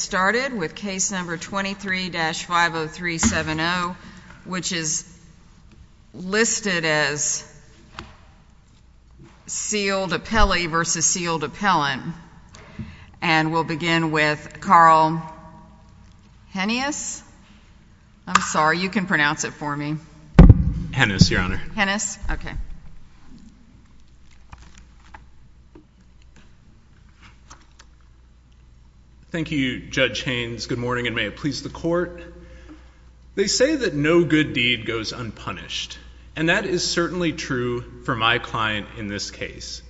We'll get started with case number 23-50370, which is listed as Sealed Appellee v. Sealed Appellant. And we'll begin with Carl Henneas. I'm sorry, you can pronounce it for me. Henneas, Your Honor. Henneas? Okay. Thank you, Judge Haynes. Good morning, and may it please the Court. They say that no good deed goes unpunished. And that is certainly true for my client in this case.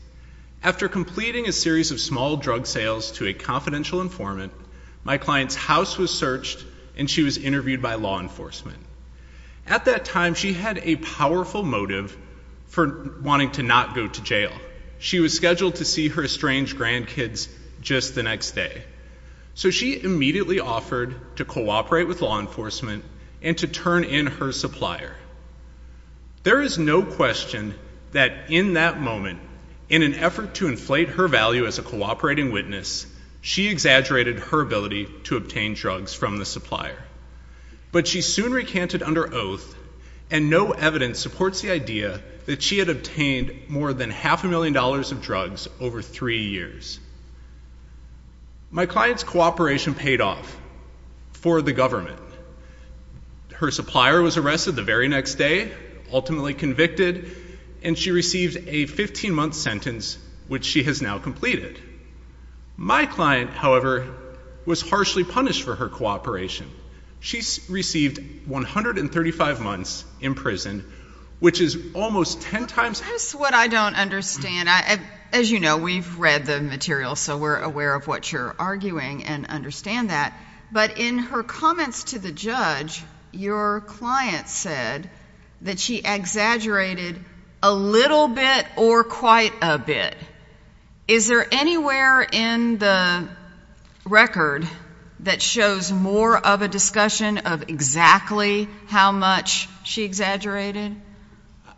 After completing a series of small drug sales to a confidential informant, my client's house was searched, and she was interviewed by law enforcement. At that time, she had a powerful motive for wanting to not go to jail. She was scheduled to see her estranged grandkids just the next day. So she immediately offered to cooperate with law enforcement and to turn in her supplier. There is no question that in that moment, in an effort to inflate her value as a cooperating witness, she exaggerated her ability to obtain drugs from the supplier. But she soon recanted under oath, and no evidence supports the idea that she had obtained more than half a million dollars of drugs over three years. My client's cooperation paid off for the government. Her supplier was arrested the very next day, ultimately convicted, and she received a 15-month sentence, which she has now completed. My client, however, was harshly punished for her cooperation. She received 135 months in prison, which is almost ten times— That's what I don't understand. As you know, we've read the material, so we're aware of what you're arguing and understand that. But in her comments to the judge, your client said that she exaggerated a little bit or quite a bit. Is there anywhere in the record that shows more of a discussion of exactly how much she exaggerated?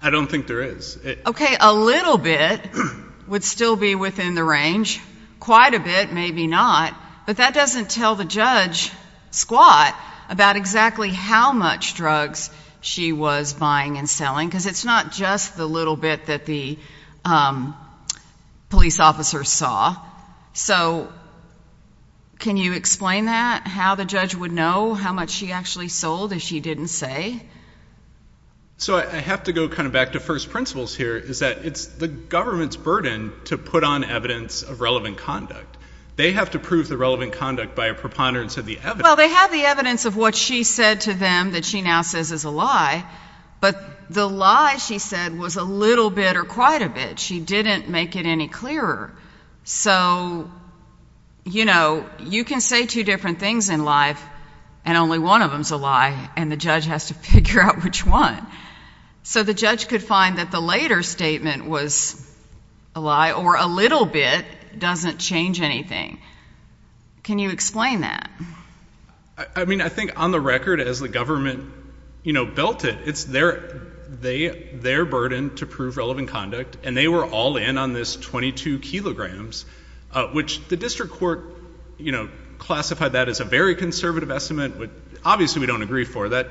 I don't think there is. Okay, a little bit would still be within the range. Quite a bit, maybe not. But that doesn't tell the judge, Squat, about exactly how much drugs she was buying and selling, because it's not just the little bit that the police officer saw. So can you explain that, how the judge would know how much she actually sold if she didn't say? So I have to go kind of back to first principles here, is that it's the government's burden to put on evidence of relevant conduct. They have to prove the relevant conduct by a preponderance of the evidence. Well, they have the evidence of what she said to them that she now says is a lie. But the lie, she said, was a little bit or quite a bit. She didn't make it any clearer. So you know, you can say two different things in life, and only one of them is a lie, and the judge has to figure out which one. So the judge could find that the later statement was a lie, or a little bit doesn't change anything. Can you explain that? I mean, I think on the record, as the government, you know, built it, it's their burden to prove relevant conduct. And they were all in on this 22 kilograms, which the district court, you know, classified that as a very conservative estimate, which obviously we don't agree for. That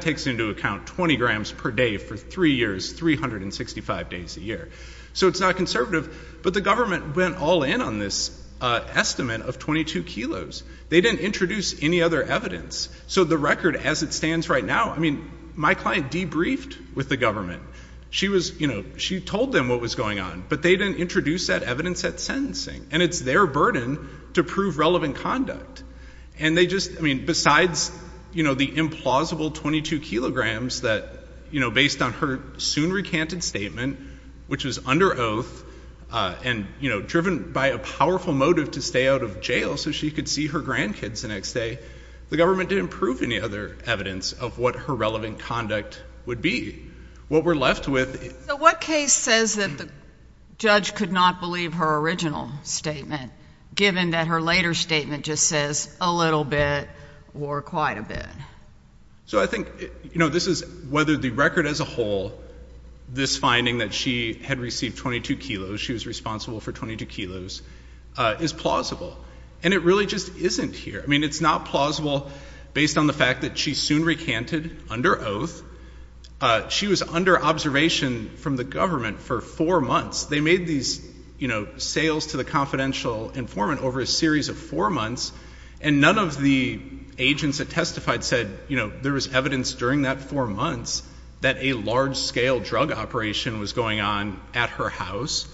takes into account 20 grams per day for three years, 365 days a year. So it's not conservative. But the government went all in on this estimate of 22 kilos. They didn't introduce any other evidence. So the record, as it stands right now, I mean, my client debriefed with the government. She was, you know, she told them what was going on, but they didn't introduce that evidence at sentencing. And it's their burden to prove relevant conduct. And they just, I mean, besides, you know, the implausible 22 kilograms that, you know, based on her soon recanted statement, which was under oath and, you know, driven by a powerful motive to stay out of jail so she could see her grandkids the next day, the government didn't prove any other evidence of what her relevant conduct would be. What we're left with. So what case says that the judge could not believe her original statement, given that her later statement just says a little bit or quite a bit? So I think, you know, this is whether the record as a whole, this finding that she had received 22 kilos, she was responsible for 22 kilos, is plausible. And it really just isn't here. I mean, it's not plausible based on the fact that she soon recanted under oath. She was under observation from the government for four months. They made these, you know, sales to the confidential informant over a series of four months. And none of the agents that testified said, you know, there was evidence during that four months that a large-scale drug operation was going on at her house.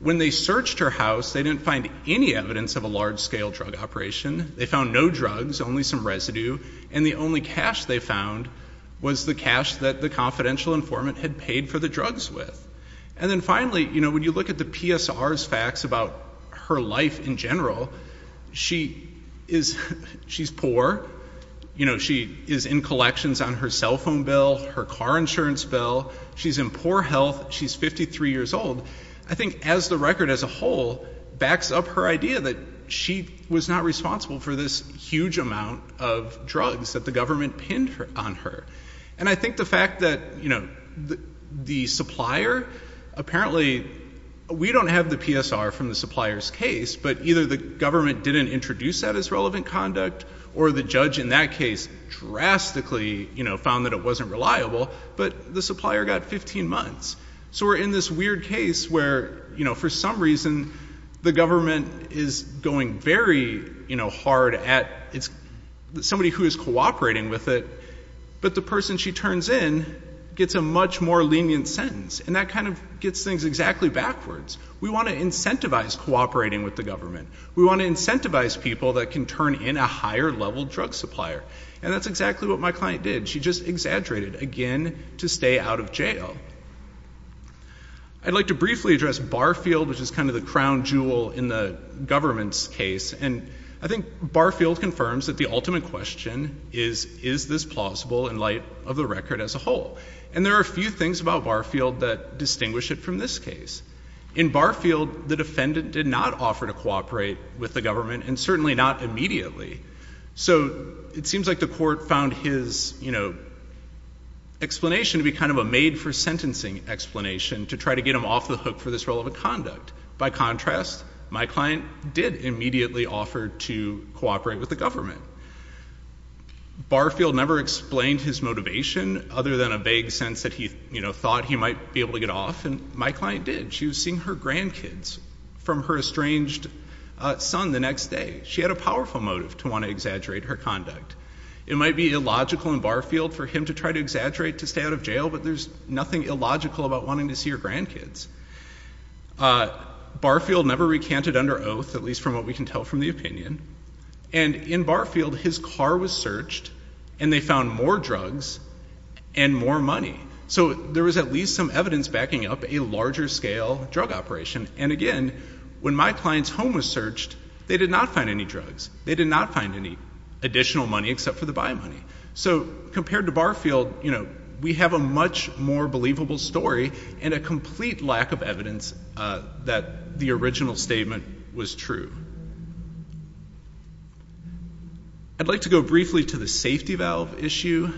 When they searched her house, they didn't find any evidence of a large-scale drug operation. They found no drugs, only some residue, and the only cash they found was the cash that the confidential informant had paid for the drugs with. And then finally, you know, when you look at the PSR's facts about her life in general, she is, she's poor, you know, she is in collections on her cell phone bill, her car insurance bill, she's in poor health, she's 53 years old. I think as the record as a whole, backs up her idea that she was not responsible for this huge amount of drugs that the government pinned on her. And I think the fact that, you know, the supplier, apparently, we don't have the PSR from the supplier's case, but either the government didn't introduce that as relevant conduct, or the judge in that case drastically, you know, found that it wasn't reliable, but the supplier got 15 months. So we're in this weird case where, you know, for some reason, the government is going very, you know, hard at its, somebody who is cooperating with it. But the person she turns in gets a much more lenient sentence, and that kind of gets things exactly backwards. We want to incentivize cooperating with the government. We want to incentivize people that can turn in a higher level drug supplier. And that's exactly what my client did. She just exaggerated, again, to stay out of jail. I'd like to briefly address Barfield, which is kind of the crown jewel in the government's case. And I think Barfield confirms that the ultimate question is, is this plausible in light of the record as a whole? And there are a few things about Barfield that distinguish it from this case. In Barfield, the defendant did not offer to cooperate with the government, and certainly not immediately. So it seems like the court found his, you know, explanation to be kind of a made for sentencing explanation to try to get him off the hook for this relevant conduct. By contrast, my client did immediately offer to cooperate with the government. Barfield never explained his motivation, other than a vague sense that he, you know, thought he might be able to get off. And my client did. She was seeing her grandkids from her estranged son the next day. She had a powerful motive to want to exaggerate her conduct. It might be illogical in Barfield for him to try to exaggerate to stay out of jail, but there's nothing illogical about wanting to see your grandkids. Barfield never recanted under oath, at least from what we can tell from the opinion. And in Barfield, his car was searched, and they found more drugs and more money. So there was at least some evidence backing up a larger scale drug operation. And again, when my client's home was searched, they did not find any drugs. They did not find any additional money except for the buy money. So compared to Barfield, you know, we have a much more believable story and a complete lack of evidence that the original statement was true. I'd like to go briefly to the safety valve issue.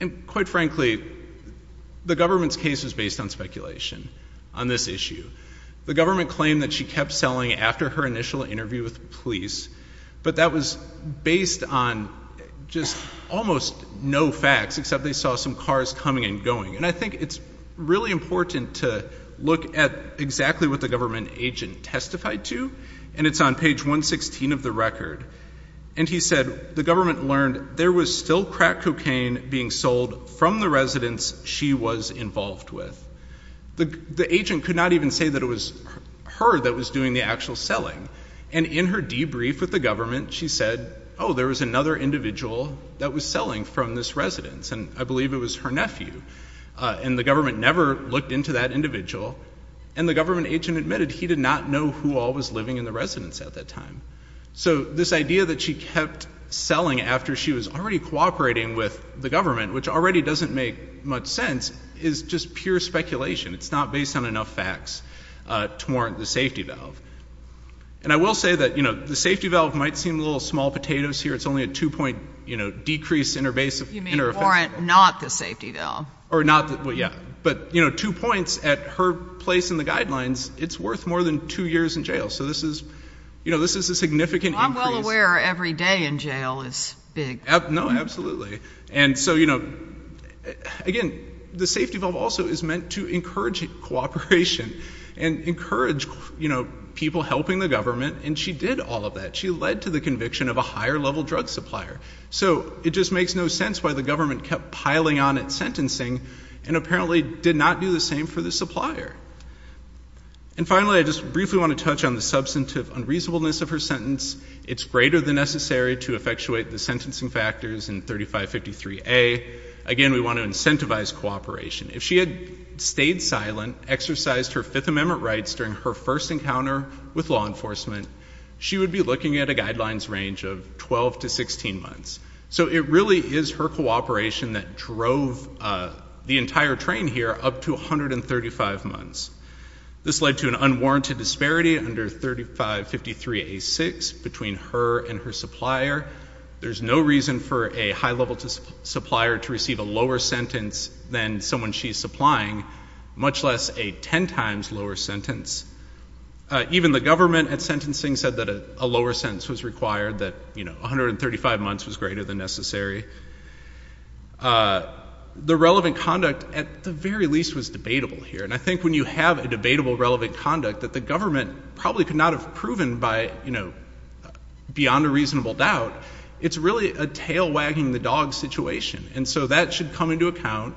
And quite frankly, the government's case is based on speculation on this issue. The government claimed that she kept selling after her initial interview with police, but that was based on just almost no facts, except they saw some cars coming and going. And I think it's really important to look at exactly what the government agent testified to, and it's on page 116 of the record. And he said, the government learned there was still crack cocaine being sold from the residence she was involved with. The agent could not even say that it was her that was doing the actual selling. And in her debrief with the government, she said, there was another individual that was selling from this residence, and I believe it was her nephew. And the government never looked into that individual. And the government agent admitted he did not know who all was living in the residence at that time. So this idea that she kept selling after she was already cooperating with the government, which already doesn't make much sense, is just pure speculation. It's not based on enough facts to warrant the safety valve. And I will say that the safety valve might seem a little small potatoes here. It's only a two-point decrease in her offense. You mean warrant not the safety valve. Or not, well, yeah. But two points at her place in the guidelines, it's worth more than two years in jail. So this is a significant increase. I'm well aware every day in jail is big. No, absolutely. And so, again, the safety valve also is meant to encourage cooperation and encourage people helping the government, and she did all of that. She led to the conviction of a higher level drug supplier. So it just makes no sense why the government kept piling on its sentencing and apparently did not do the same for the supplier. And finally, I just briefly want to touch on the substantive unreasonableness of her sentence. It's greater than necessary to effectuate the sentencing factors in 3553A. Again, we want to incentivize cooperation. If she had stayed silent, exercised her Fifth Amendment rights during her first encounter with law enforcement, she would be looking at a guidelines range of 12 to 16 months. So it really is her cooperation that drove the entire train here up to 135 months. This led to an unwarranted disparity under 3553A6 between her and her supplier. There's no reason for a high level supplier to receive a lower sentence than someone she's supplying, much less a ten times lower sentence. Even the government at sentencing said that a lower sentence was required, that 135 months was greater than necessary. The relevant conduct, at the very least, was debatable here. And I think when you have a debatable relevant conduct that the government probably could not have proven by beyond a reasonable doubt, it's really a tail wagging the dog situation. And so that should come into account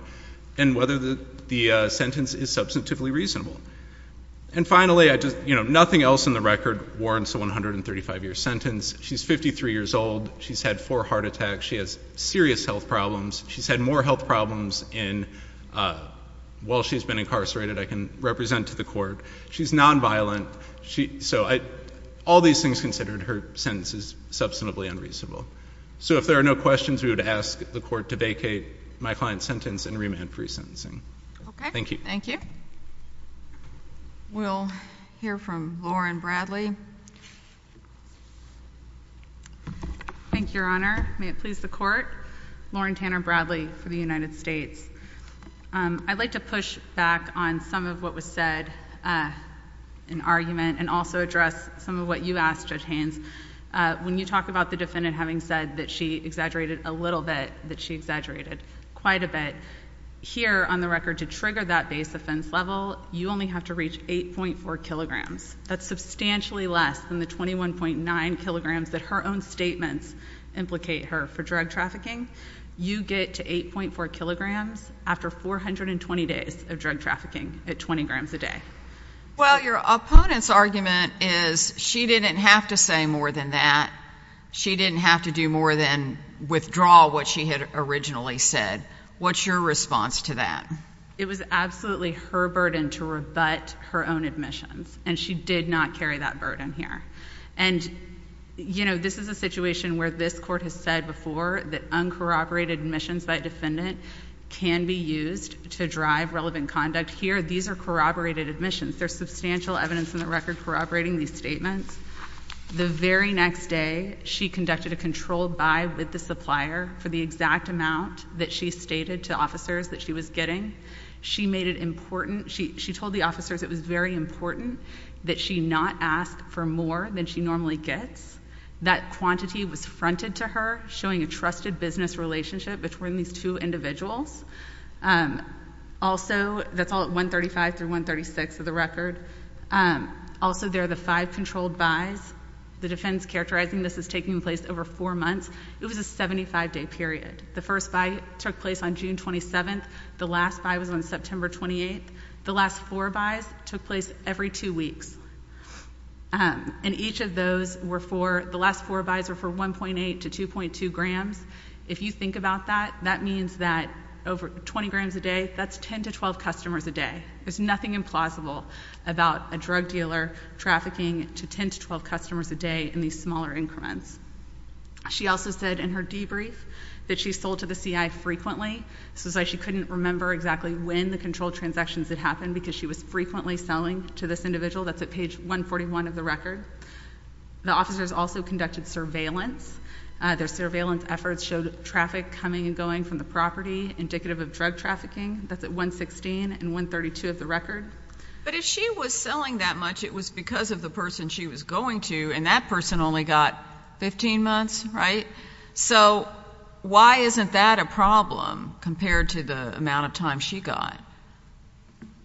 in whether the sentence is substantively reasonable. And finally, nothing else in the record warrants a 135 year sentence. She's 53 years old, she's had four heart attacks, she has serious health problems. She's had more health problems while she's been incarcerated, I can represent to the court. She's non-violent, so all these things considered, her sentence is substantively unreasonable. So if there are no questions, we would ask the court to vacate my client's sentence and remand pre-sentencing. Thank you. Thank you. We'll hear from Lauren Bradley. Thank you, Your Honor. May it please the court. Lauren Tanner Bradley for the United States. I'd like to push back on some of what was said in argument and also address some of what you asked, Judge Haynes. When you talk about the defendant having said that she exaggerated a little bit, that she exaggerated quite a bit. Here, on the record, to trigger that base offense level, you only have to reach 8.4 kilograms. That's substantially less than the 21.9 kilograms that her own statements implicate her for drug trafficking. You get to 8.4 kilograms after 420 days of drug trafficking at 20 grams a day. Well, your opponent's argument is she didn't have to say more than that. She didn't have to do more than withdraw what she had originally said. What's your response to that? It was absolutely her burden to rebut her own admissions, and she did not carry that burden here. And this is a situation where this court has said before that uncorroborated admissions by a defendant can be used to drive relevant conduct. Here, these are corroborated admissions. There's substantial evidence in the record corroborating these statements. The very next day, she conducted a controlled buy with the supplier for the exact amount that she stated to officers that she was getting. She made it important, she told the officers it was very important that she not ask for more than she normally gets. That quantity was fronted to her, showing a trusted business relationship between these two individuals. Also, that's all at 135 through 136 of the record. Also, there are the five controlled buys. The defense characterizing this is taking place over four months. It was a 75 day period. The first buy took place on June 27th. The last buy was on September 28th. The last four buys took place every two weeks. And each of those were for, the last four buys were for 1.8 to 2.2 grams. If you think about that, that means that over 20 grams a day, that's 10 to 12 customers a day. There's nothing implausible about a drug dealer trafficking to 10 to 12 customers a day in these smaller increments. She also said in her debrief that she sold to the CI frequently. So she couldn't remember exactly when the controlled transactions had happened because she was frequently selling to this individual. That's at page 141 of the record. The officers also conducted surveillance. Their surveillance efforts showed traffic coming and going from the property, indicative of drug trafficking. That's at 116 and 132 of the record. But if she was selling that much, it was because of the person she was going to, and that person only got 15 months, right? So why isn't that a problem compared to the amount of time she got?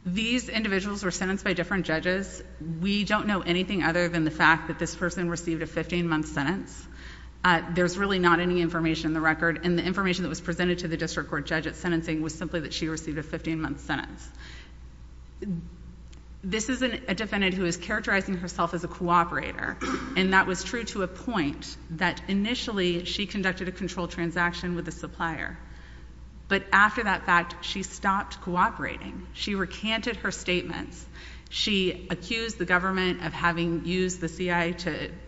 These individuals were sentenced by different judges. We don't know anything other than the fact that this person received a 15 month sentence. There's really not any information in the record, and the information that was presented to the district court judge at sentencing was simply that she received a 15 month sentence. This is a defendant who is characterizing herself as a cooperator, and that was true to a point that initially she conducted a controlled transaction with a supplier. But after that fact, she stopped cooperating. She recanted her statements. She accused the government of having used the CI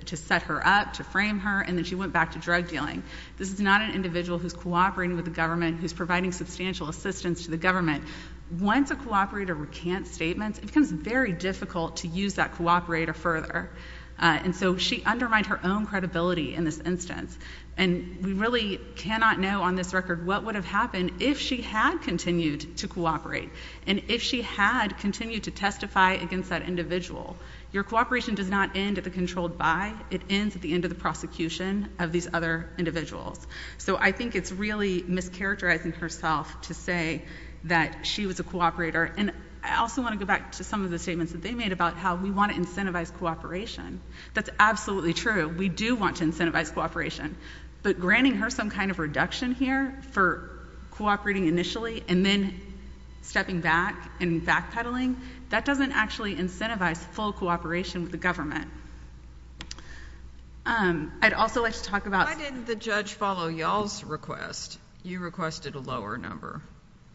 to set her up, to frame her, and then she went back to drug dealing. This is not an individual who's cooperating with the government, who's providing substantial assistance to the government. Once a cooperator recants statements, it becomes very difficult to use that cooperator further. And so she undermined her own credibility in this instance. And we really cannot know on this record what would have happened if she had continued to cooperate. And if she had continued to testify against that individual, your cooperation does not end at the controlled buy. It ends at the end of the prosecution of these other individuals. So I think it's really mischaracterizing herself to say that she was a cooperator. And I also want to go back to some of the statements that they made about how we want to incentivize cooperation. That's absolutely true. We do want to incentivize cooperation. But granting her some kind of reduction here for cooperating initially and then stepping back and backpedaling, that doesn't actually incentivize full cooperation with the government. I'd also like to talk about- Why didn't the judge follow y'all's request? You requested a lower number.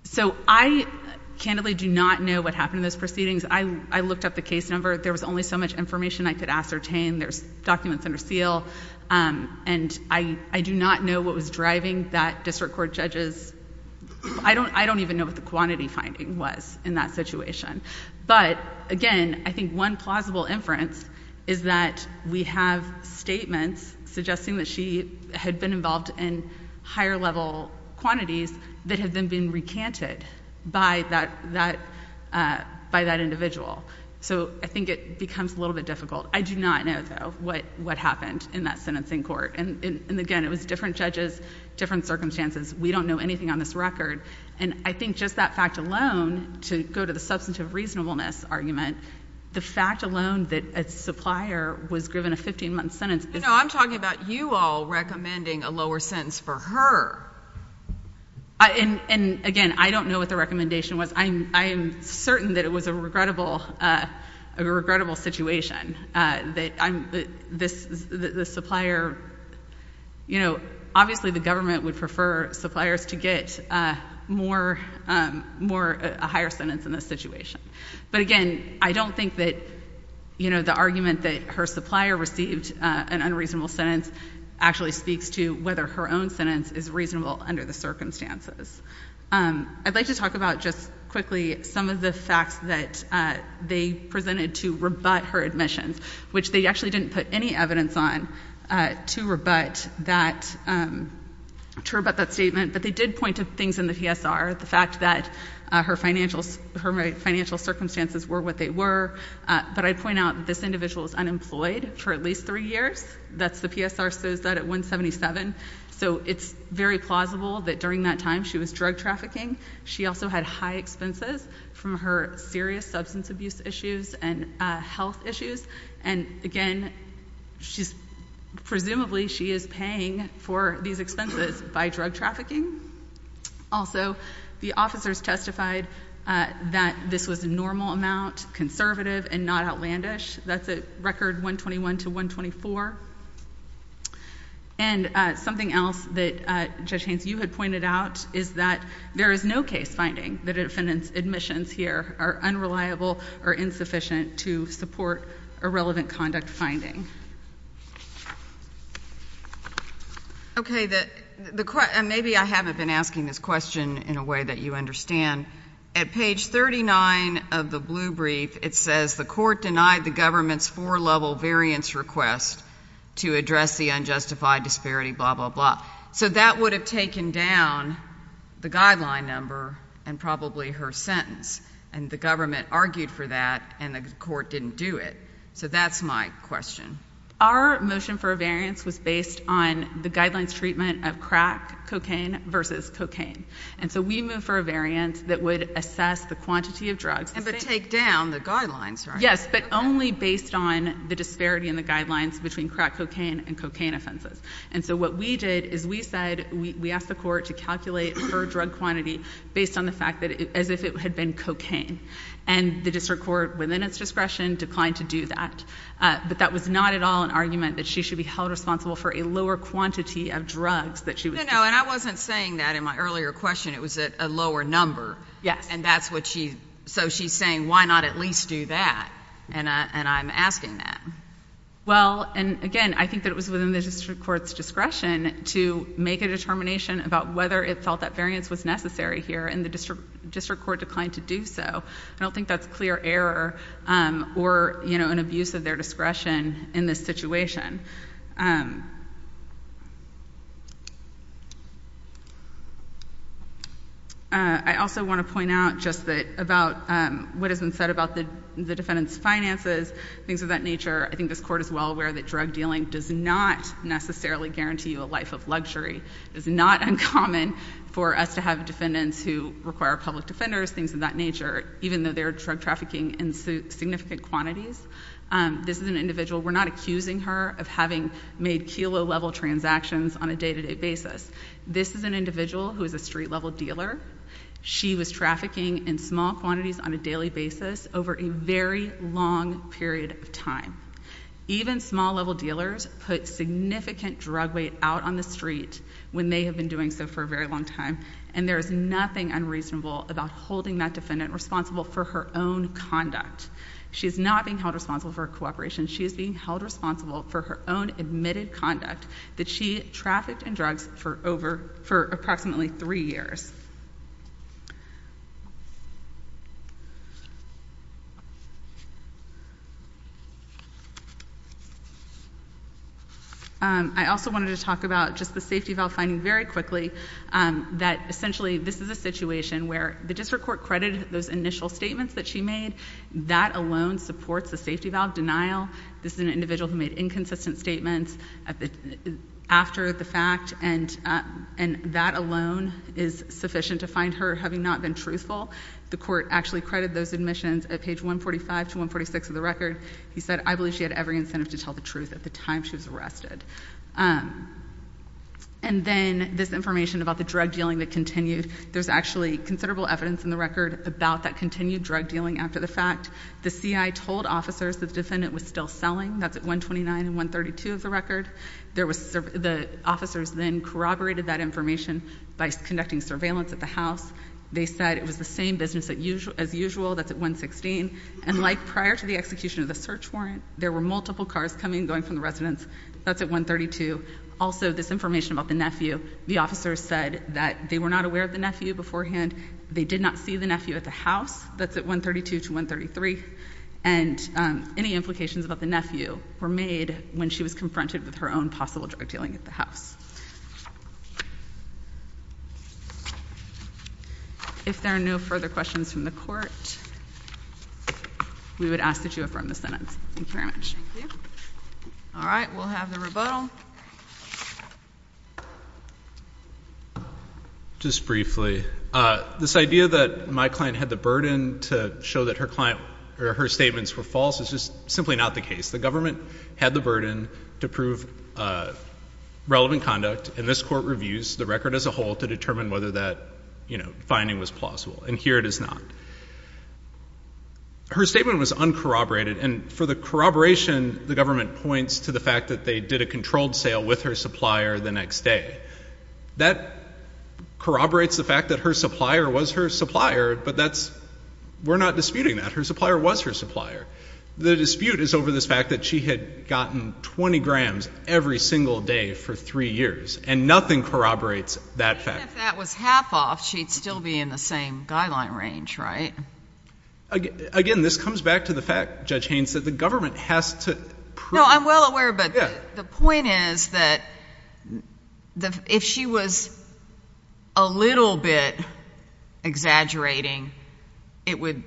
So I, candidly, do not know what happened in those proceedings. I looked up the case number. There was only so much information I could ascertain. There's documents under seal. And I do not know what was driving that district court judge's- I don't even know what the quantity finding was in that situation. But again, I think one plausible inference is that we have statements suggesting that she had been involved in higher level quantities that had then been recanted by that individual. So I think it becomes a little bit difficult. I do not know, though, what happened in that sentencing court. And again, it was different judges, different circumstances. We don't know anything on this record. And I think just that fact alone, to go to the substantive reasonableness argument, the fact alone that a supplier was given a 15-month sentence is- You know, I'm talking about you all recommending a lower sentence for her. And again, I don't know what the recommendation was. I am certain that it was a regrettable situation. That the supplier- You know, obviously the government would prefer suppliers to get a higher sentence in this situation. But again, I don't think that the argument that her supplier received an unreasonable sentence actually speaks to whether her own sentence is reasonable under the circumstances. I'd like to talk about just quickly some of the facts that they presented to rebut her admissions, which they actually didn't put any evidence on to rebut that statement. But they did point to things in the PSR, the fact that her financial circumstances were what they were. But I'd point out that this individual was unemployed for at least three years. That's the PSR says that at 177. So it's very plausible that during that time she was drug trafficking. She also had high expenses from her serious substance abuse issues and health issues. And again, presumably she is paying for these expenses by drug trafficking. Also, the officers testified that this was a normal amount, conservative and not outlandish. That's a record 121 to 124. And something else that, Judge Haynes, you had pointed out is that there is no case finding that an offendant's admissions here are unreliable or insufficient to support a relevant conduct finding. Okay, maybe I haven't been asking this question in a way that you understand. At page 39 of the blue brief, it says the court denied the government's four-level variance request. To address the unjustified disparity, blah, blah, blah. So that would have taken down the guideline number and probably her sentence. And the government argued for that and the court didn't do it. So that's my question. Our motion for a variance was based on the guidelines treatment of crack cocaine versus cocaine. And so we moved for a variance that would assess the quantity of drugs. But take down the guidelines, right? Yes, but only based on the disparity in the guidelines between crack cocaine and cocaine offenses. And so what we did is we said, we asked the court to calculate her drug quantity based on the fact that, as if it had been cocaine. And the district court, within its discretion, declined to do that. But that was not at all an argument that she should be held responsible for a lower quantity of drugs that she was doing. No, no, and I wasn't saying that in my earlier question. It was a lower number. Yes. And that's what she, so she's saying, why not at least do that? And I'm asking that. Well, and again, I think that it was within the district court's discretion to make a determination about whether it felt that variance was necessary here and the district court declined to do so. I don't think that's clear error or, you know, an abuse of their discretion in this situation. I also want to point out just that about what has been said about the defendant's finances, things of that nature. I think this court is well aware that drug dealing does not necessarily guarantee you a life of luxury. It is not uncommon for us to have defendants who require public defenders, things of that nature, even though they're drug trafficking in significant quantities. This is an individual. We're not accusing her of having made kilo-level transactions on a day-to-day basis. This is an individual who is a street-level dealer. She was trafficking in small quantities on a daily basis over a very long period of time. Even small-level dealers put significant drug weight out on the street when they have been doing so for a very long time, and there is nothing unreasonable about holding that defendant responsible for her own conduct. She's not being held responsible for her cooperation. She is being held responsible for her own admitted conduct that she trafficked in drugs for approximately three years. I also wanted to talk about just the safety valve finding very quickly that, essentially, this is a situation where the district court credited those initial statements that she made. That alone supports the safety valve denial. This is an individual who made inconsistent statements after the fact, and that alone is sufficient to find her having not been truthful. The court actually credited those admissions at page 145 to 146 of the record. He said, I believe she had every incentive to tell the truth at the time she was arrested. And then this information about the drug dealing that continued. There's actually considerable evidence in the record about that continued drug dealing after the fact. The CI told officers that the defendant was still selling. That's at 129 and 132 of the record. The officers then corroborated that information by conducting surveillance at the house. They said it was the same business as usual. That's at 116. And like prior to the execution of the search warrant, there were multiple cars coming and going from the residence. That's at 132. Also, this information about the nephew. The officers said that they were not aware of the nephew beforehand. They did not see the nephew at the house. That's at 132 to 133. And any implications about the nephew were made when she was confronted with her own possible drug dealing at the house. If there are no further questions from the court, we would ask that you affirm the sentence. Thank you very much. All right. We'll have the rebuttal. Just briefly, this idea that my client had the burden to show that her statements were false is just simply not the case. The government had the burden to prove relevant conduct. And this court reviews the record as a whole to determine whether that finding was plausible. And here it is not. Her statement was uncorroborated. And for the corroboration, the government points to the fact that they did a controlled sale with her supplier the next day. That corroborates the fact that her supplier was her supplier, but we're not disputing that. Her supplier was her supplier. The dispute is over this fact that she had gotten 20 grams every single day for three years. And nothing corroborates that fact. Even if that was half off, she'd still be in the same guideline range, right? Again, this comes back to the fact, Judge Haynes, that the government has to prove. No, I'm well aware, but the point is that if she was a little bit exaggerating, it would,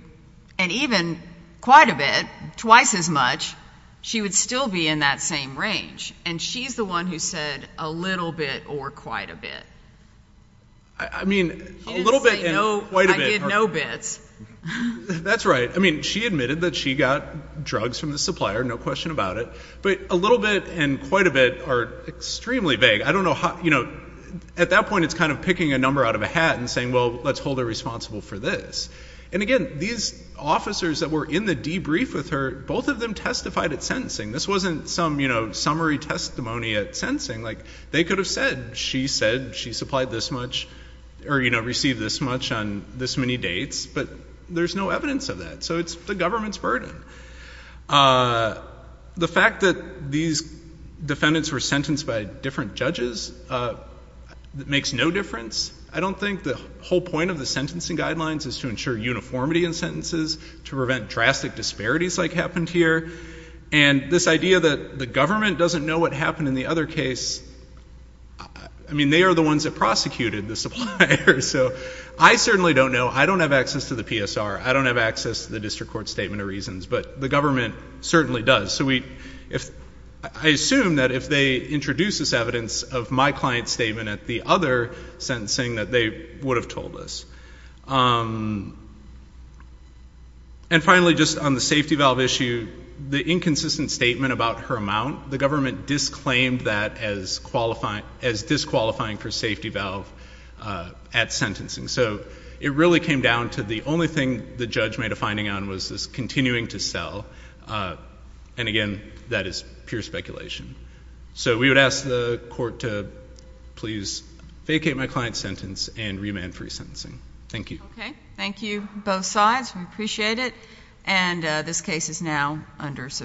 and even quite a bit, twice as much, she would still be in that same range. And she's the one who said a little bit or quite a bit. I mean, a little bit and quite a bit. She admitted that she got drugs from the supplier, no question about it, but a little bit and quite a bit are extremely vague. At that point, it's kind of picking a number out of a hat and saying, well, let's hold her responsible for this. And again, these officers that were in the debrief with her, both of them testified at sentencing. This wasn't some summary testimony at sentencing. They could have said, she said she supplied this much or received this much on this many dates, but there's no evidence of that, so it's the government's burden. The fact that these defendants were sentenced by different judges makes no difference. I don't think the whole point of the sentencing guidelines is to ensure uniformity in sentences, to prevent drastic disparities like happened here. And this idea that the government doesn't know what happened in the other case, I mean, they are the ones that prosecuted the supplier. So I certainly don't know. I don't have access to the PSR. I don't have access to the district court statement of reasons, but the government certainly does. So I assume that if they introduce this evidence of my client's statement at the other sentencing, that they would have told us. And finally, just on the safety valve issue, the inconsistent statement about her amount, the government disclaimed that as disqualifying for safety valve at sentencing. So it really came down to the only thing the judge made a finding on was this continuing to sell. And again, that is pure speculation. So we would ask the court to please vacate my client's sentence and remand free sentencing. Thank you. Okay, thank you, both sides. We appreciate it. And this case is now under